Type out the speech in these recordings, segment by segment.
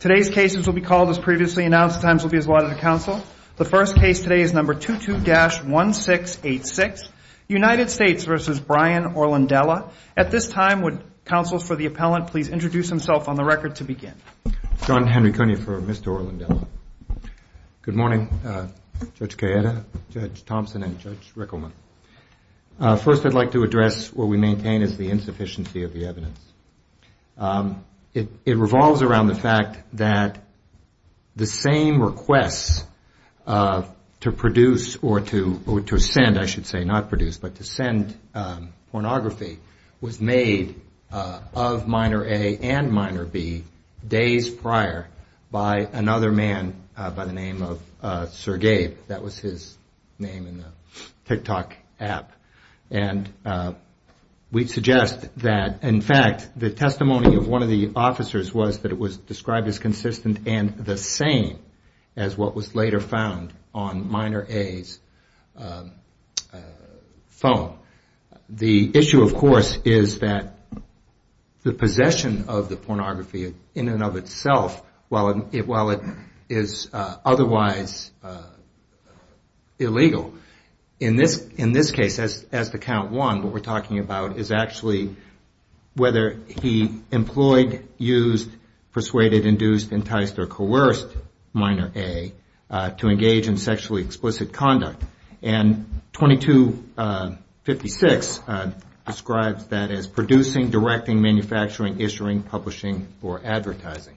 Today's case is number 22-1686 United States v. Brian Orlandella. At this time, would counsel for the appellant please introduce himself on the record to begin. John Henry Cooney for Mr. Orlandella. Good morning Judge Cayetta, Judge Thompson, and Judge Rickelman. First I'd like to address what we maintain is the insufficiency of the evidence. It revolves around the fact that the same requests to produce or to send, I should say not produce, but to send pornography was made of minor A and minor B days prior by another man by the name of Sir Gabe. That was his name in the TikTok app. And we suggest that in fact the testimony of one of the officers was that it was described as consistent and the same as what was later found on minor A's phone. The issue of course is that the possession of the pornography in and of itself, while it is otherwise illegal, in this case as to count one, what we're talking about is actually whether he employed, used, persuaded, induced, enticed, or coerced minor A to engage in sexually explicit conduct. And 2256 describes that as producing, directing, manufacturing, issuing, publishing, or advertising.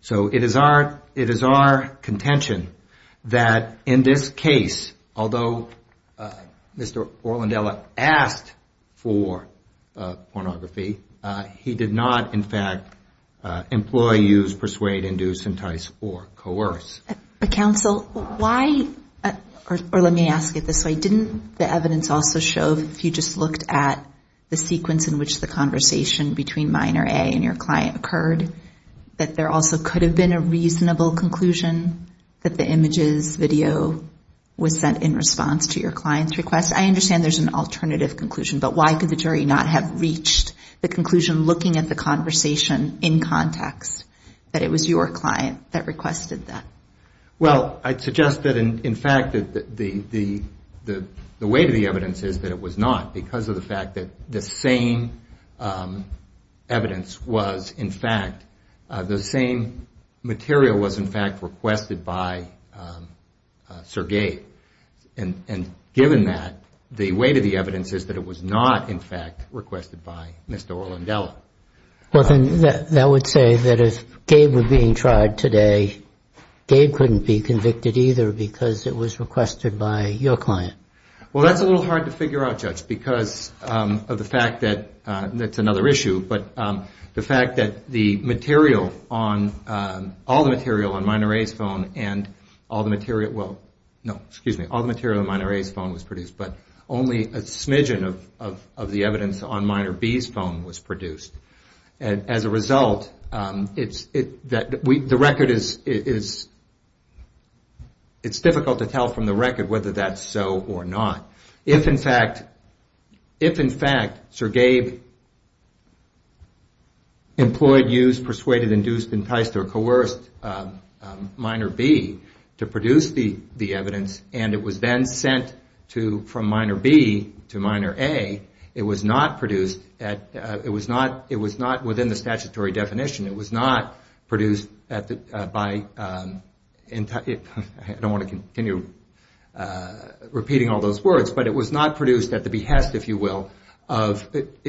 So it is our contention that in this case, although Mr. Orlandella asked for pornography, he did not in fact employ, use, persuade, induce, entice, or coerce. Counsel, why, or let me ask it this way, didn't the evidence also show if you just looked at the sequence in which the conversation between minor A and your client occurred, that there also could have been a reasonable conclusion that the images, video, was sent in response to your client's request? Because I understand there's an alternative conclusion, but why could the jury not have reached the conclusion looking at the conversation in context that it was your client that requested that? Well, I'd suggest that in fact the weight of the evidence is that it was not because of the fact that the same evidence was in fact, the same material was in fact requested by Sir Gabe. And given that, the weight of the evidence is that it was not in fact requested by Mr. Orlandella. Well, then that would say that if Gabe were being tried today, Gabe couldn't be convicted either because it was requested by your client. Well, that's a little hard to figure out, Judge, because of the fact that, that's another issue, but the fact that the material on, all the material on minor A's phone and all the material, well, no, excuse me, all the material on minor A's phone was produced, but only a smidgen of the evidence on minor B's phone was produced. As a result, the record is, it's difficult to tell from the record whether that's so or not. If in fact, if in fact Sir Gabe employed, used, persuaded, induced, enticed, or coerced minor B to produce the evidence and it was then sent from minor B to minor A, it was not produced, it was not within the statutory definition. It was not produced at the, by, I don't want to continue repeating all those words, but it was not produced at the behest, if you will, of,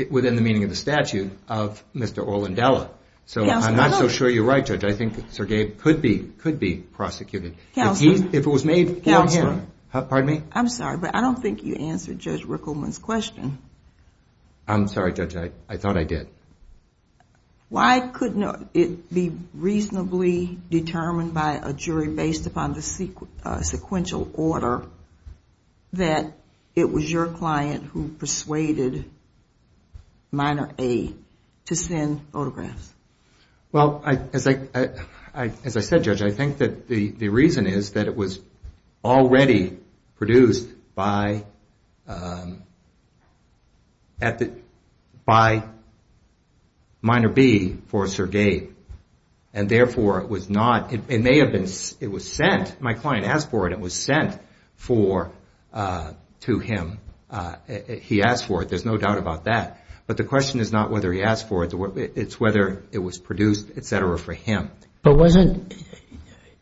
within the meaning of the statute of Mr. Orlandella. So I'm not so sure you're right, Judge, I think Sir Gabe could be, could be prosecuted. Counselor. If he, if it was made clear here. Counselor. Pardon me? I'm sorry, but I don't think you answered Judge Rickleman's question. I'm sorry, Judge, I thought I did. Why couldn't it be reasonably determined by a jury based upon the sequential order that it was your client who persuaded minor A to send photographs? Well, as I, as I said, Judge, I think that the reason is that it was already produced by, at the, by minor B for Sir Gabe, and therefore it was not, it may have been, it was sent, my client asked for it, it was sent for, to him. He asked for it, there's no doubt about that. But the question is not whether he asked for it, it's whether it was produced, et cetera, for him. But wasn't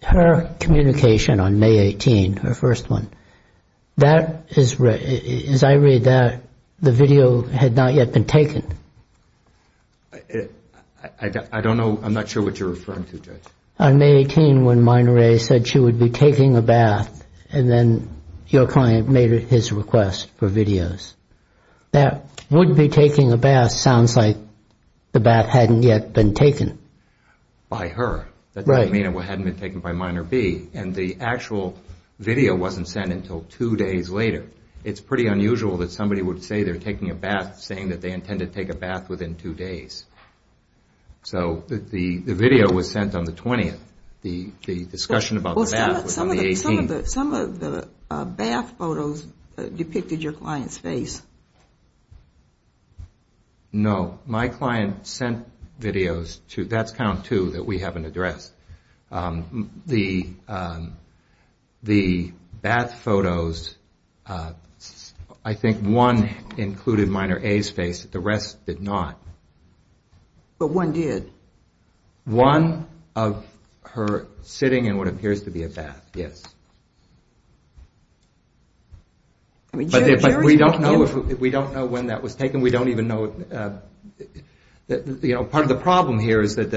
her communication on May 18th, her first one, that is, as I read that, the video had not yet been taken. I don't know, I'm not sure what you're referring to, Judge. On May 18th, when minor A said she would be taking a bath, and then your client made his request for videos. That would be taking a bath sounds like the bath hadn't yet been taken. By her. Right. That doesn't mean it hadn't been taken by minor B, and the actual video wasn't sent until two days later. It's pretty unusual that somebody would say they're taking a bath saying that they intend to take a bath within two days. So the video was sent on the 20th. The discussion about the bath was on the 18th. Some of the bath photos depicted your client's face. No, my client sent videos to, that's count two that we haven't addressed. The bath photos, I think one included minor A's face. The rest did not. But one did. One of her sitting in what appears to be a bath, yes. But we don't know when that was taken. We don't even know. Part of the problem here is that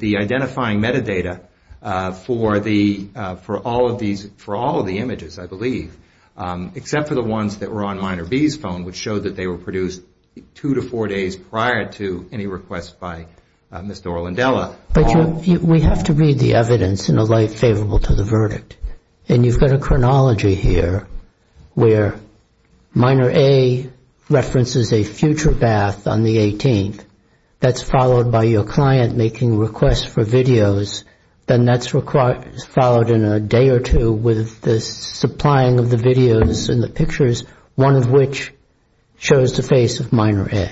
the identifying metadata for all of the images, I believe, except for the ones that were on minor B's phone, which showed that they were produced two to four days prior to any request by Ms. Norlandella. But we have to read the evidence in a light favorable to the verdict. And you've got a chronology here where minor A references a future bath on the 18th. That's followed by your client making requests for videos. Then that's followed in a day or two with the supplying of the videos and the pictures, one of which shows the face of minor A.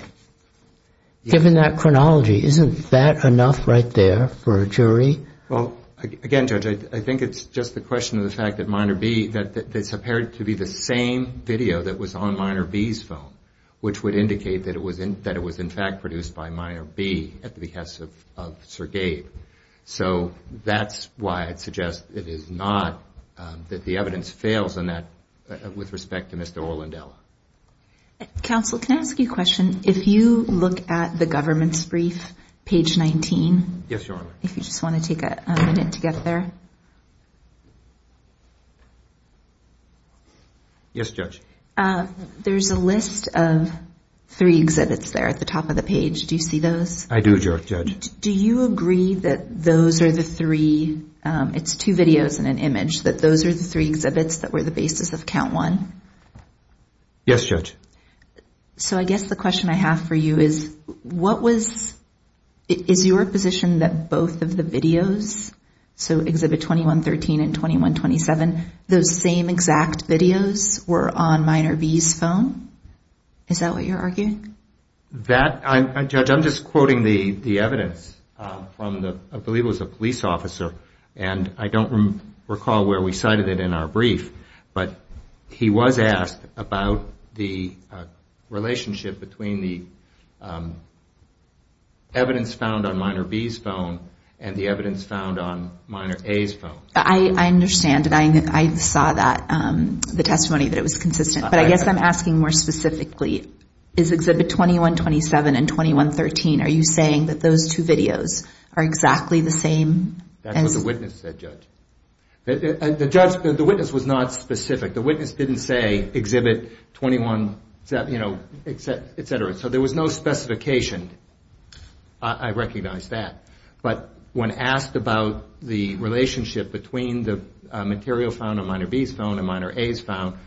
Given that chronology, isn't that enough right there for a jury? Well, again, Judge, I think it's just the question of the fact that minor B, that it's appeared to be the same video that was on minor B's phone, which would indicate that it was in fact produced by minor B at the behest of Sir Gabe. So that's why I'd suggest it is not that the evidence fails in that with respect to Mr. Orlandella. Counsel, can I ask you a question? If you look at the government's brief, page 19. Yes, Your Honor. If you just want to take a minute to get there. Yes, Judge. There's a list of three exhibits there at the top of the page. Do you see those? I do, Judge. Do you agree that those are the three, it's two videos and an image, that those are the three exhibits that were the basis of count one? Yes, Judge. So I guess the question I have for you is what was, is your position that both of the videos, so exhibit 2113 and 2127, those same exact videos were on minor B's phone? Is that what you're arguing? That, Judge, I'm just quoting the evidence from the, I believe it was a police officer, and I don't recall where we cited it in our brief, but he was asked about the relationship between the evidence found on minor B's phone and the evidence found on minor A's phone. I understand, and I saw that, the testimony, that it was consistent. But I guess I'm asking more specifically, is exhibit 2127 and 2113, are you saying that those two videos are exactly the same? That's what the witness said, Judge. The witness was not specific. The witness didn't say exhibit 21, you know, et cetera. So there was no specification. I recognize that. But when asked about the relationship between the material found on minor B's phone and minor A's phone,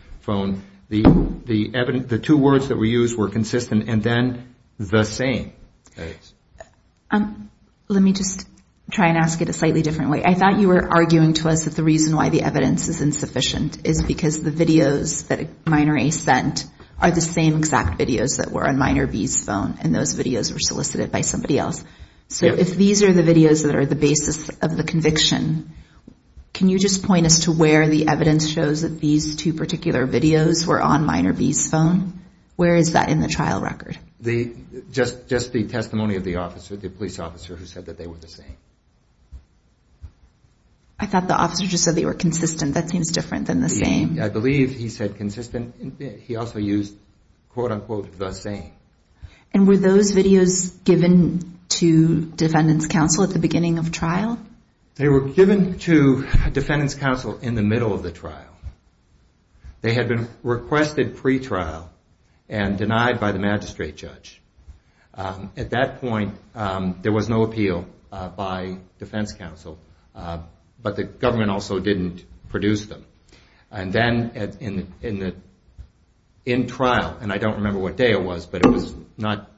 the two words that were used were consistent and then the same. Let me just try and ask it a slightly different way. I thought you were arguing to us that the reason why the evidence is insufficient is because the videos that minor A sent are the same exact videos that were on minor B's phone, and those videos were solicited by somebody else. So if these are the videos that are the basis of the conviction, can you just point us to where the evidence shows that these two particular videos were on minor B's phone? Where is that in the trial record? Just the testimony of the officer, the police officer, who said that they were the same. I thought the officer just said they were consistent. That seems different than the same. I believe he said consistent. He also used, quote, unquote, the same. And were those videos given to defendants' counsel at the beginning of trial? They were given to defendants' counsel in the middle of the trial. They had been requested pretrial and denied by the magistrate judge. At that point, there was no appeal by defense counsel, but the government also didn't produce them. And then in trial, and I don't remember what day it was, but it was not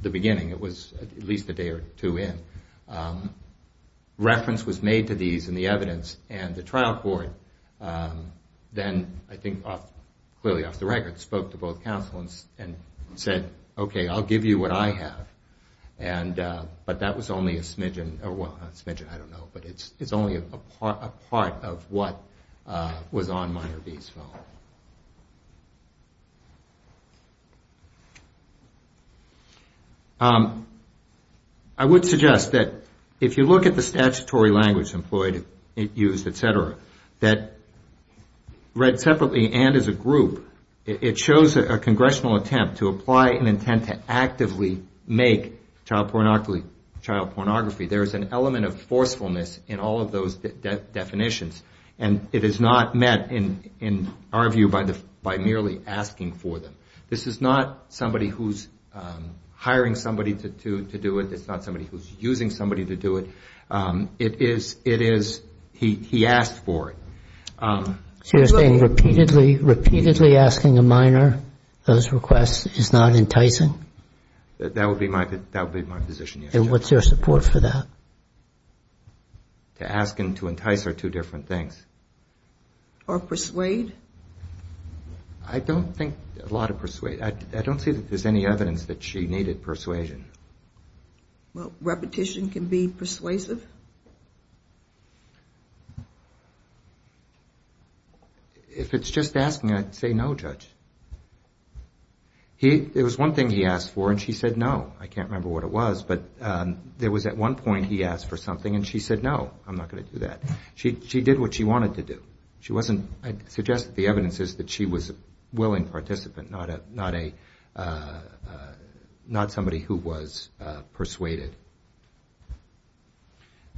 the beginning. It was at least a day or two in. Reference was made to these in the evidence, and the trial court then, I think clearly off the record, spoke to both counsel and said, okay, I'll give you what I have. But that was only a smidgen, well, not a smidgen, I don't know, but it's only a part of what was on minor B's phone. Next slide. I would suggest that if you look at the statutory language employed, used, et cetera, that read separately and as a group, it shows a congressional attempt to apply an intent to actively make child pornography. There is an element of forcefulness in all of those definitions, and it is not met in our view by merely asking for them. This is not somebody who's hiring somebody to do it. It's not somebody who's using somebody to do it. It is he asked for it. So you're saying repeatedly asking a minor those requests is not enticing? That would be my position, yes. And what's your support for that? To ask and to entice are two different things. Or persuade? I don't think a lot of persuade. I don't see that there's any evidence that she needed persuasion. Well, repetition can be persuasive? If it's just asking, I'd say no, Judge. There was one thing he asked for, and she said no. I can't remember what it was, but there was at one point he asked for something, and she said no. I'm not going to do that. She did what she wanted to do. I'd suggest that the evidence is that she was a willing participant, not somebody who was persuaded.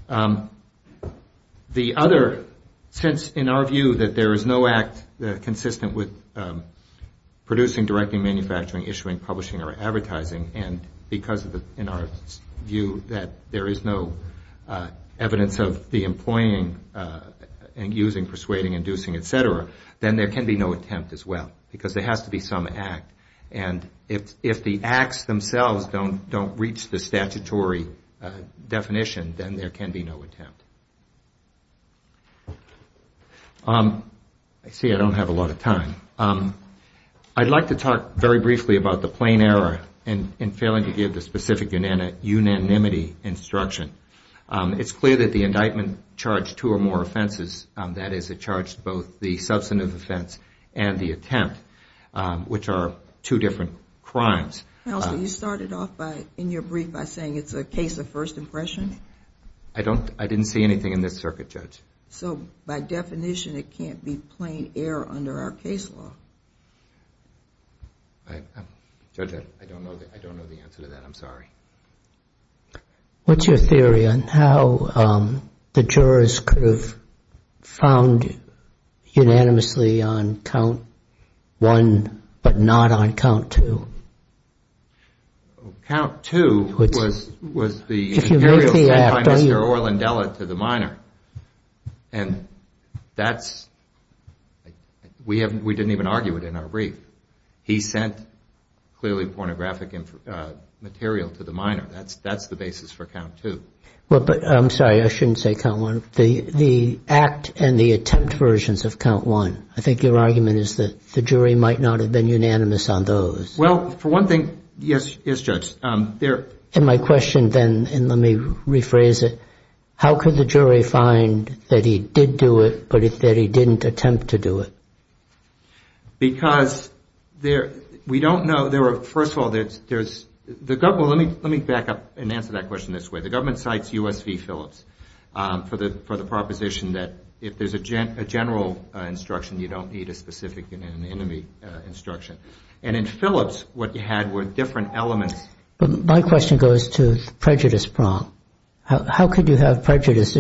The other, since in our view that there is no act consistent and because in our view that there is no evidence of the employing and using persuading, inducing, et cetera, then there can be no attempt as well. Because there has to be some act. And if the acts themselves don't reach the statutory definition, then there can be no attempt. I see I don't have a lot of time. I'd like to talk very briefly about the plain error in failing to give the specific unanimity instruction. It's clear that the indictment charged two or more offenses. That is, it charged both the substantive offense and the attempt, which are two different crimes. Counsel, you started off in your brief by saying it's a case of first impression? I didn't see anything in this circuit, Judge. So by definition, it can't be plain error under our case law? Judge, I don't know the answer to that. I'm sorry. What's your theory on how the jurors could have found unanimously on count one, but not on count two? Count two was the interior sent by Mr. Orlandella to the minor. And that's, we didn't even argue it in our brief. He sent clearly pornographic material to the minor. That's the basis for count two. I'm sorry, I shouldn't say count one. The act and the attempt versions of count one, I think your argument is that the jury might not have been unanimous on those. Well, for one thing, yes, Judge. And my question then, and let me rephrase it, how could the jury find that he did do it, but that he didn't attempt to do it? Because we don't know. First of all, let me back up and answer that question this way. The government cites U.S. v. Phillips for the proposition that if there's a general instruction, you don't need a specific enemy instruction. And in Phillips, what you had were different elements. My question goes to prejudice prong. How could you have prejudice?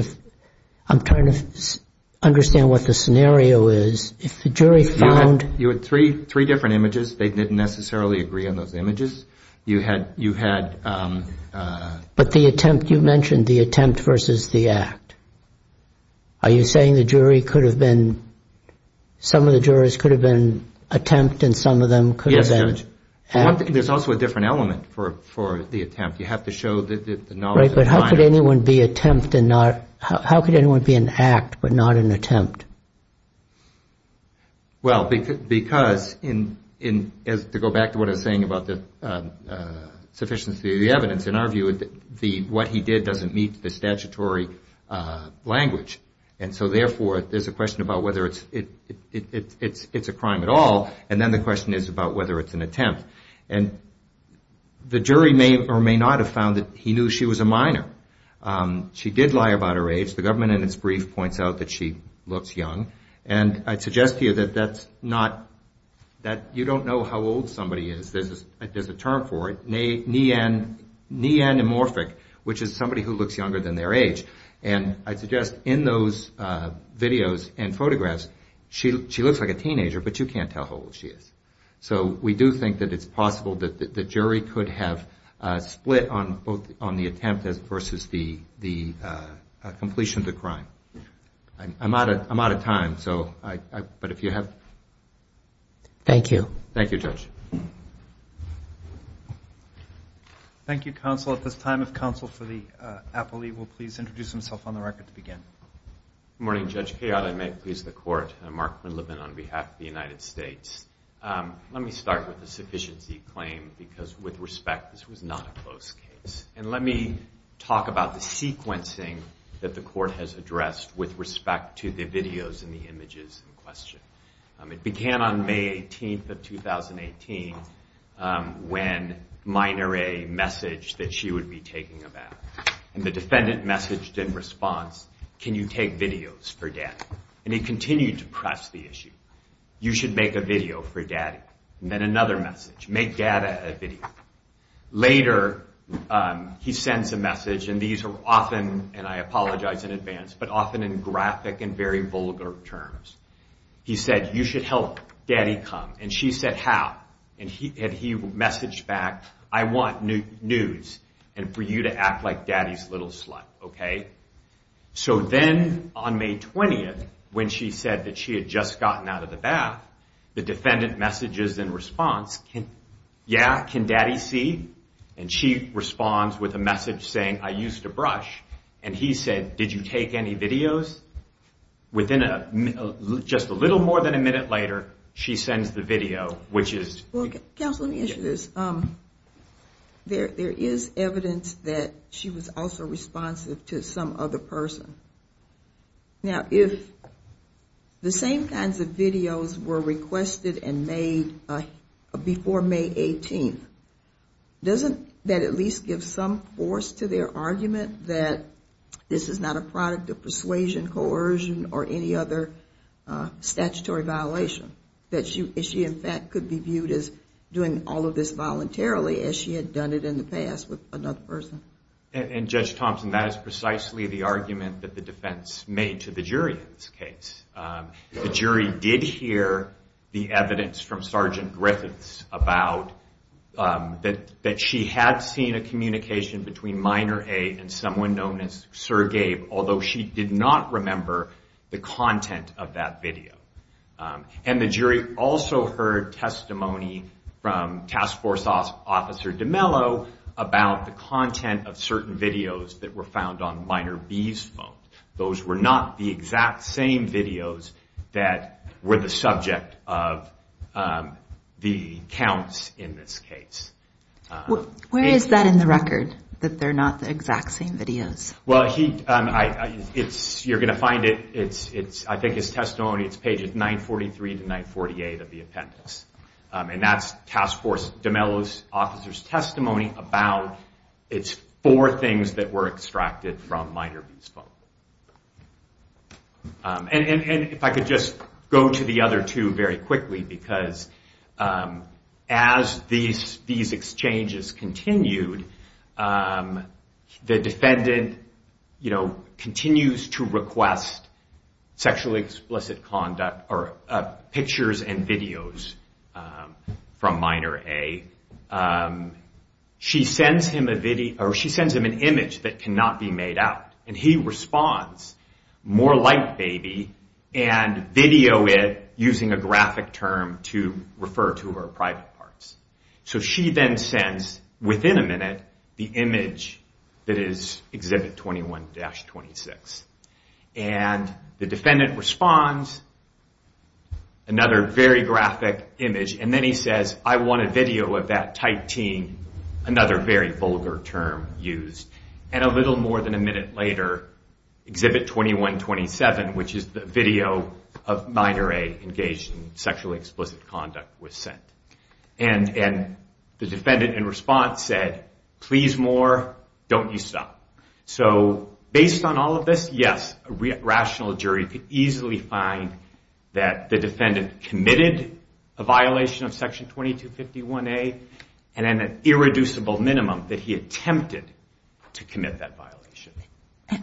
I'm trying to understand what the scenario is. If the jury found... You had three different images. They didn't necessarily agree on those images. But the attempt, you mentioned the attempt versus the act. Are you saying the jury could have been, some of the jurors could have been attempt and some of them could have been act? Yes, Judge. There's also a different element for the attempt. You have to show the knowledge... Right, but how could anyone be attempt and not... How could anyone be an act but not an attempt? Well, because, to go back to what I was saying about the sufficiency of the evidence, in our view, what he did doesn't meet the statutory language. And so therefore, there's a question about whether it's a crime at all, and then the question is about whether it's an attempt. And the jury may or may not have found that he knew she was a minor. She did lie about her age. The government, in its brief, points out that she looks young. And I suggest to you that that's not... You don't know how old somebody is. There's a term for it, neanamorphic, which is somebody who looks younger than their age. And I suggest in those videos and photographs, she looks like a teenager, but you can't tell how old she is. So we do think that it's possible that the jury could have split on the attempt versus the completion of the crime. I'm out of time, but if you have... Thank you. Thank you, Judge. Thank you, counsel. At this time, if counsel for the appellee will please introduce himself on the record to begin. Good morning, Judge Cahill. I may please the court. I'm Mark Quinlivan on behalf of the United States. Let me start with a sufficiency claim, because with respect, this was not a close case. And let me talk about the sequencing that the court has addressed with respect to the videos and the images in question. It began on May 18th of 2018 when Minor A messaged that she would be taking a bath. And the defendant messaged in response, can you take videos for Daddy? And he continued to press the issue. You should make a video for Daddy. And then another message, make Daddy a video. Later, he sends a message, and these are often, and I apologize in advance, but often in graphic and very vulgar terms. He said, you should help Daddy come. And she said, how? And he messaged back, I want news and for you to act like Daddy's little slut, okay? So then on May 20th, when she said that she had just gotten out of the bath, the defendant messages in response, yeah, can Daddy see? And she responds with a message saying, I used a brush. And he said, did you take any videos? Within just a little more than a minute later, she sends the video, which is... Counsel, let me ask you this. There is evidence that she was also responsive to some other person. Now, if the same kinds of videos were requested and made before May 18th, doesn't that at least give some force to their argument that this is not a product of persuasion, coercion, or any other statutory violation? That she, in fact, could be viewed as doing all of this voluntarily as she had done it in the past with another person? And Judge Thompson, that is precisely the argument that the defense made to the jury in this case. The jury did hear the evidence from Sergeant Griffiths about that she had seen a communication between Minor A and someone known as Sir Gabe, although she did not remember the content of that video. And the jury also heard testimony from Task Force Officer DeMello about the content of certain videos that were found on Minor B's phone. Those were not the exact same videos that were the subject of the counts in this case. Where is that in the record, that they're not the exact same videos? Well, you're going to find it I think it's testimony, it's pages 943 to 948 of the appendix. And that's Task Force DeMello's officer's testimony about its four things that were extracted from Minor B's phone. And if I could just go to the other two very quickly because as these exchanges continued the defendant continues to request sexually explicit conduct or pictures and videos from Minor A she sends him an image that cannot be made out and he responds, more like baby and video it using a graphic term to refer to her private parts. So she then sends, within a minute the image that is Exhibit 21-26 and the defendant responds, another very graphic image and then he says, I want a video of that Type T, another very vulgar term used. And a little more than a minute later Exhibit 21-27, which is the video of Minor A engaged in and the defendant in response said please more, don't you stop. So based on all of this, yes, a rational jury could easily find that the defendant committed a violation of Section 22-51A and an irreducible minimum that he attempted to commit that violation.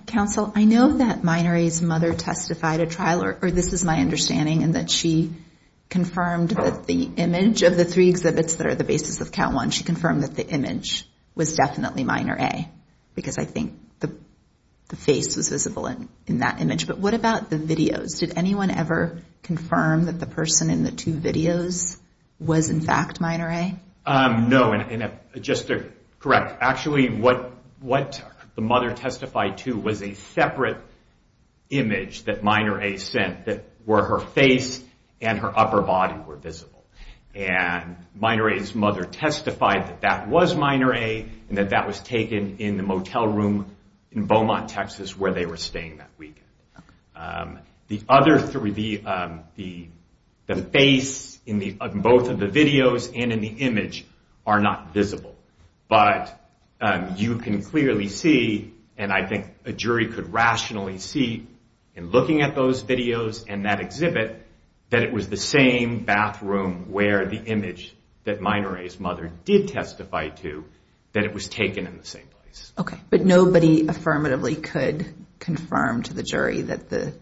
Counsel, I know that Minor A's mother testified at trial or this is my understanding and that she confirmed that the image of the three exhibits that are the basis of Count 1 she confirmed that the image was definitely Minor A because I think the face was visible in that image but what about the videos? Did anyone ever confirm that the person in the two videos was in fact Minor A? No just to correct, actually what the mother testified to was a separate image that Minor A sent that were her face and her upper body were visible. Minor A's mother testified that that was Minor A and that that was taken in the motel room in Beaumont, Texas where they were staying that weekend. The other three the face in both of the videos and in the image are not visible but you can clearly see and I think a jury could rationally see in looking at those videos and that exhibit that it was the same bathroom where the image that Minor A's mother did testify to that it was taken in the same place. But nobody affirmatively could confirm to the jury that the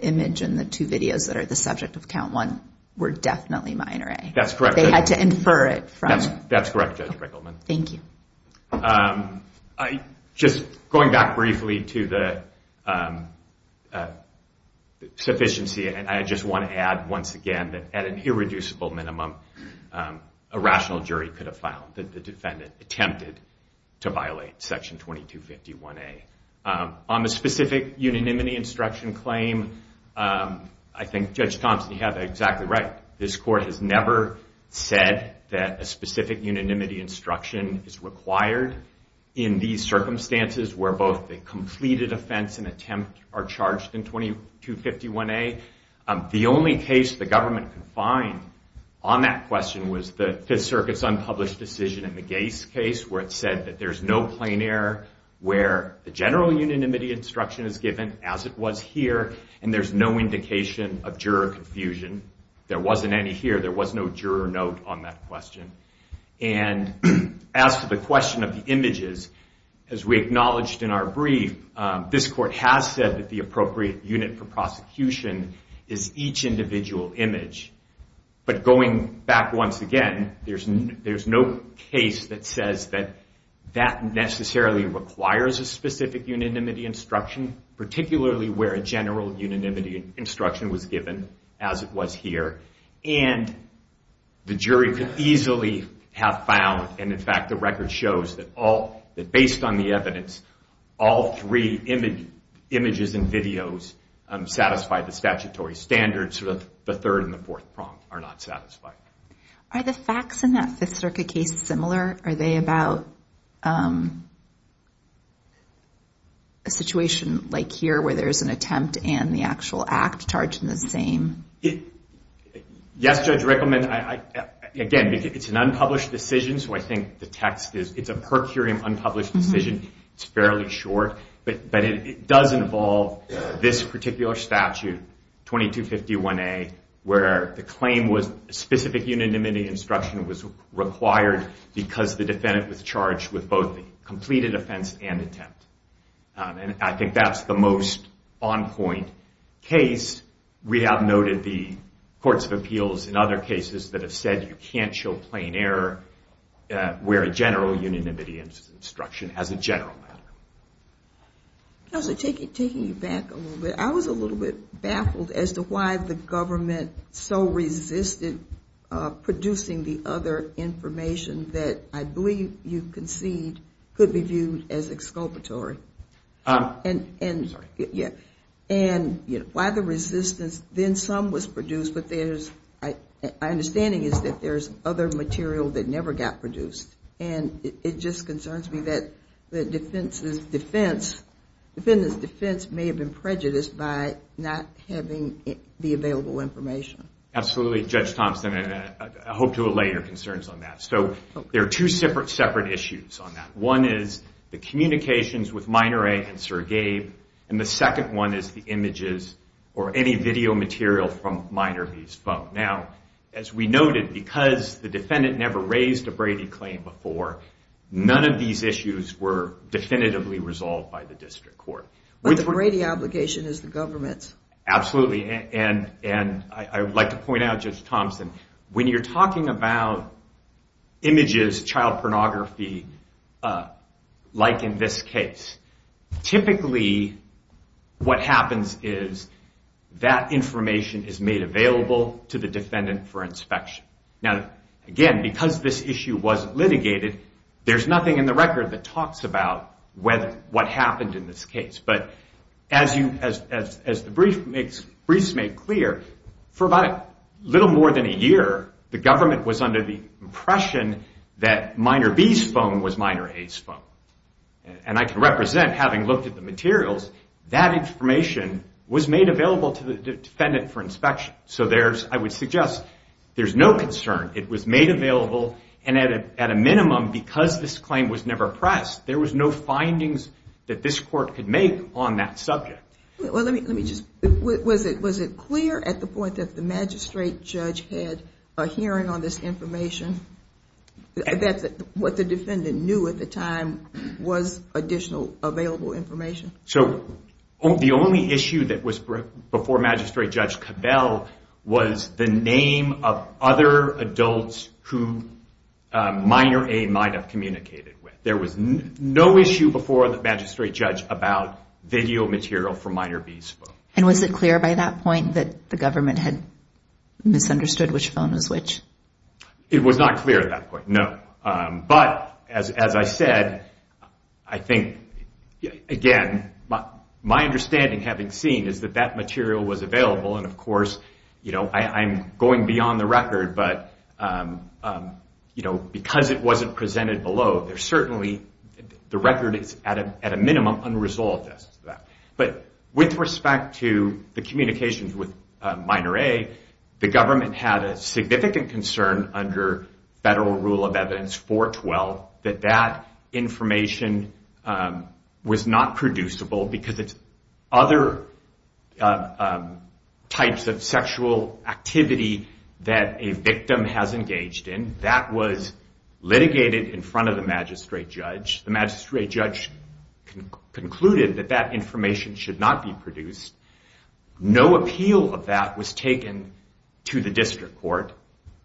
image in the two videos that are the subject of Count 1 were definitely Minor A. They had to infer it. That's correct Judge Rickleman. Just going back briefly to the sufficiency and I just want to add once again that at an irreducible minimum a rational jury could have found that the defendant attempted to violate Section 2251A. On the specific unanimity instruction claim I think Judge Thompson had that exactly right. This court has never said that a specific unanimity instruction is required in these circumstances where both the completed offense and attempt are charged in 2251A. The only case the government could find on that question was the Fifth Circuit's unpublished decision in the Gace case where it said that there's no plain error where the general unanimity instruction is given as it was here and there's no juror note on that question. And as to the question of the images as we acknowledged in our brief this court has said that the appropriate unit for prosecution is each individual image. But going back once again there's no case that says that that necessarily requires a specific unanimity instruction particularly where a general unanimity instruction was given as it was here and the jury could easily have found and in fact the record shows that based on the evidence all three images and videos satisfy the statutory standards of the third and the fourth prompt are not satisfied. Are the facts in that Fifth Circuit case similar? Are they about a situation like here where there's an attempt and the actual act charged in the same? Yes Judge Rickleman again it's an unpublished decision so I think the text it's a per curiam unpublished decision it's fairly short but it does involve this particular statute 2251A where the claim was specific unanimity instruction was required because the defendant was charged with both the completed offense and and I think that's the most on point case we have noted the courts of appeals and other cases that have said you can't show plain error where a general unanimity instruction as a general matter. Counselor taking you back a little bit I was a little bit baffled as to why the government so resisted producing the other information that I believe you and why the resistance then some was produced but there's my understanding is that there's other material that never got produced and it just concerns me that the defense may have been prejudiced by not having the available information. Absolutely Judge Thompson I hope to allay your concerns on that so there are two separate issues on that one is the communications with Miner A and Sir Gabe and the second one is the images or any video material from Miner B's phone. Now as we noted because the defendant never raised a Brady claim before none of these issues were definitively resolved by the district court. But the Brady obligation is the government's. Absolutely and I would like to point out Judge Thompson when you're talking about images child pornography like in this case typically what happens is that information is made available to the defendant for inspection. Now again because this issue was litigated there's nothing in the record that talks about what happened in this case but as the briefs make clear for about a little more than a year the government was under the impression that Miner B's phone was Miner A's phone and I can represent having looked at the materials that information was made available to the defendant for inspection so there's I would suggest there's no concern it was made available and at a minimum because this claim was never pressed there was no findings that this court could make on that subject. Well let me just was it clear at the point that the magistrate judge had a hearing on this information that what the defendant knew at the time was additional available information? So the only issue that was before magistrate judge Cabell was the name of other adults who Miner A might have communicated with. There was no issue before the magistrate judge about video material from Miner B's phone. And was it clear by that point that the government had misunderstood which phone was which? It was not clear at that point no but as I said I think again my understanding having seen is that that material was available and of course you know I'm going beyond the record but you know because it wasn't presented below there certainly the record is at a minimum unresolved. But with respect to the communications with Miner A the government had a significant concern under federal rule of evidence 412 that that information was not producible because it's other types of sexual activity that a victim has engaged in that was litigated in front of the magistrate judge. The magistrate judge concluded that that information should not be produced. No appeal of that was taken to the district court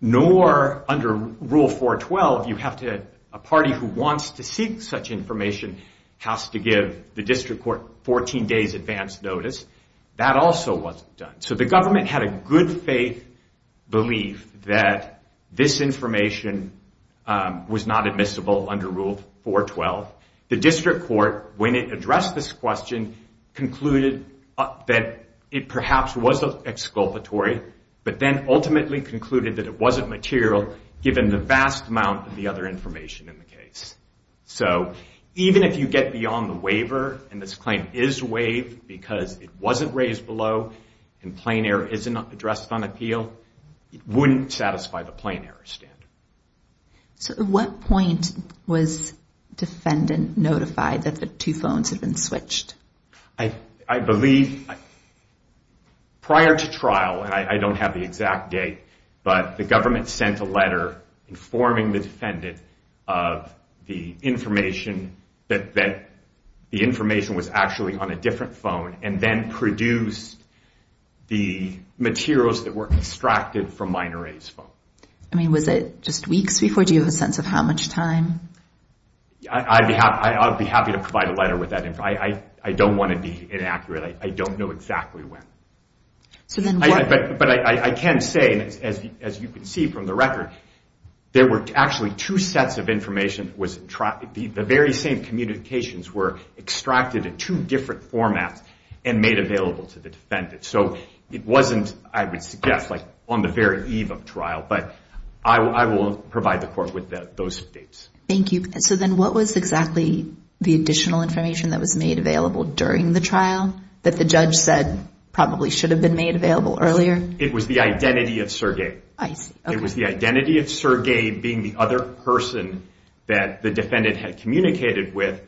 nor under rule 412 you have to a party who wants to seek such information has to give the district court 14 days advance notice. That also wasn't done. So the government had a good faith belief that this information was not admissible under rule 412. The district court when it addressed this question concluded that it perhaps was exculpatory but then ultimately concluded that it wasn't material given the vast amount of the other information in the case. So even if you get beyond the waiver and this claim is waived because it wasn't raised below and plain air isn't addressed on appeal it wouldn't satisfy the plain air standard. So at what point was defendant notified that the two phones had been switched? I believe prior to trial and I don't have the exact date but the government sent a letter informing the defendant of the information that the information was actually on a different phone and then produced the materials that were extracted from minor A's phone. I mean was it just weeks before? Do you have a sense of how much time? I'd be happy to provide a letter with that I don't want to be inaccurate. I don't know exactly when. But I can say as you can see from the record there were actually two sets of information the very same communications were made available to the defendant. So it wasn't I would suggest on the very eve of trial but I will provide the court with those dates. Thank you. So then what was exactly the additional information that was made available during the trial that the judge said probably should have been made available earlier? It was the identity of Sergei. It was the identity of Sergei being the other person that the defendant had communicated with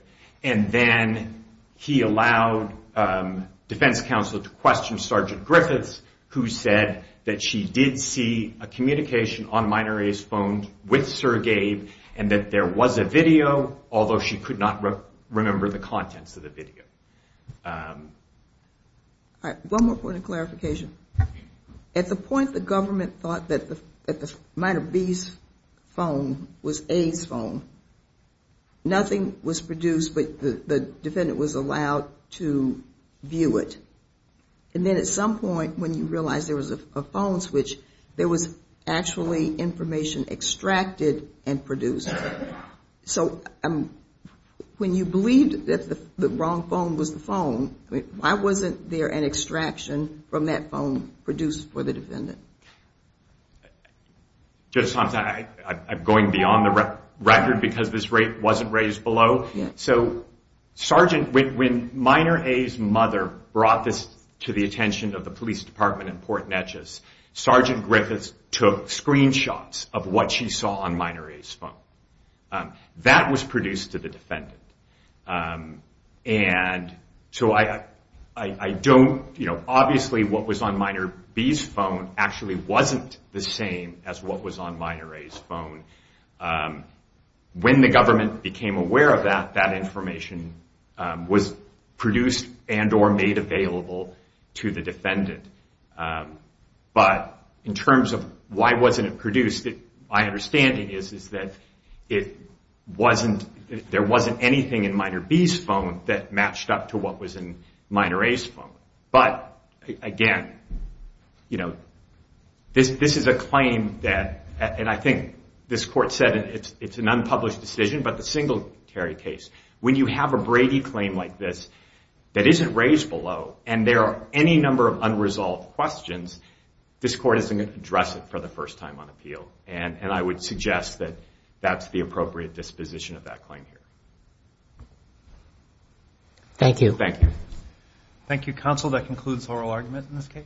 and then he allowed defense counsel to question Sergeant Griffiths who said that she did see a communication on minor A's phone with Sergei and that there was a video although she could not remember the contents of the video. One more point of clarification. At the point the government thought that the minor B's phone was A's phone nothing was produced but the defendant was allowed to view it. And then at some point when you realized there was a phone switch there was actually information extracted and produced. So when you believed that the wrong phone was the phone, why wasn't there an extraction from that phone produced for the defendant? I'm going beyond the record because this rate wasn't raised below. When minor A's mother brought this to the attention of the police department in Port Neches, Sergeant Griffiths took screenshots of what she saw on minor A's phone. That was produced to the defendant. Obviously what was on minor B's phone actually wasn't the same as what was on minor A's phone. When the government became aware of that, that information was produced and or made available to the defendant. But in terms of why wasn't it produced my understanding is that there wasn't anything in minor B's phone that matched up to what was in minor A's phone. But again this is a claim that and I think this court said it's an unpublished decision but the Singletary case, when you have a Brady claim like this that isn't raised below and there are any number of unresolved questions this court isn't going to address it for the first time on appeal. I would suggest that that's the appropriate disposition of that claim here. Thank you. Thank you counsel, that concludes oral argument in this case.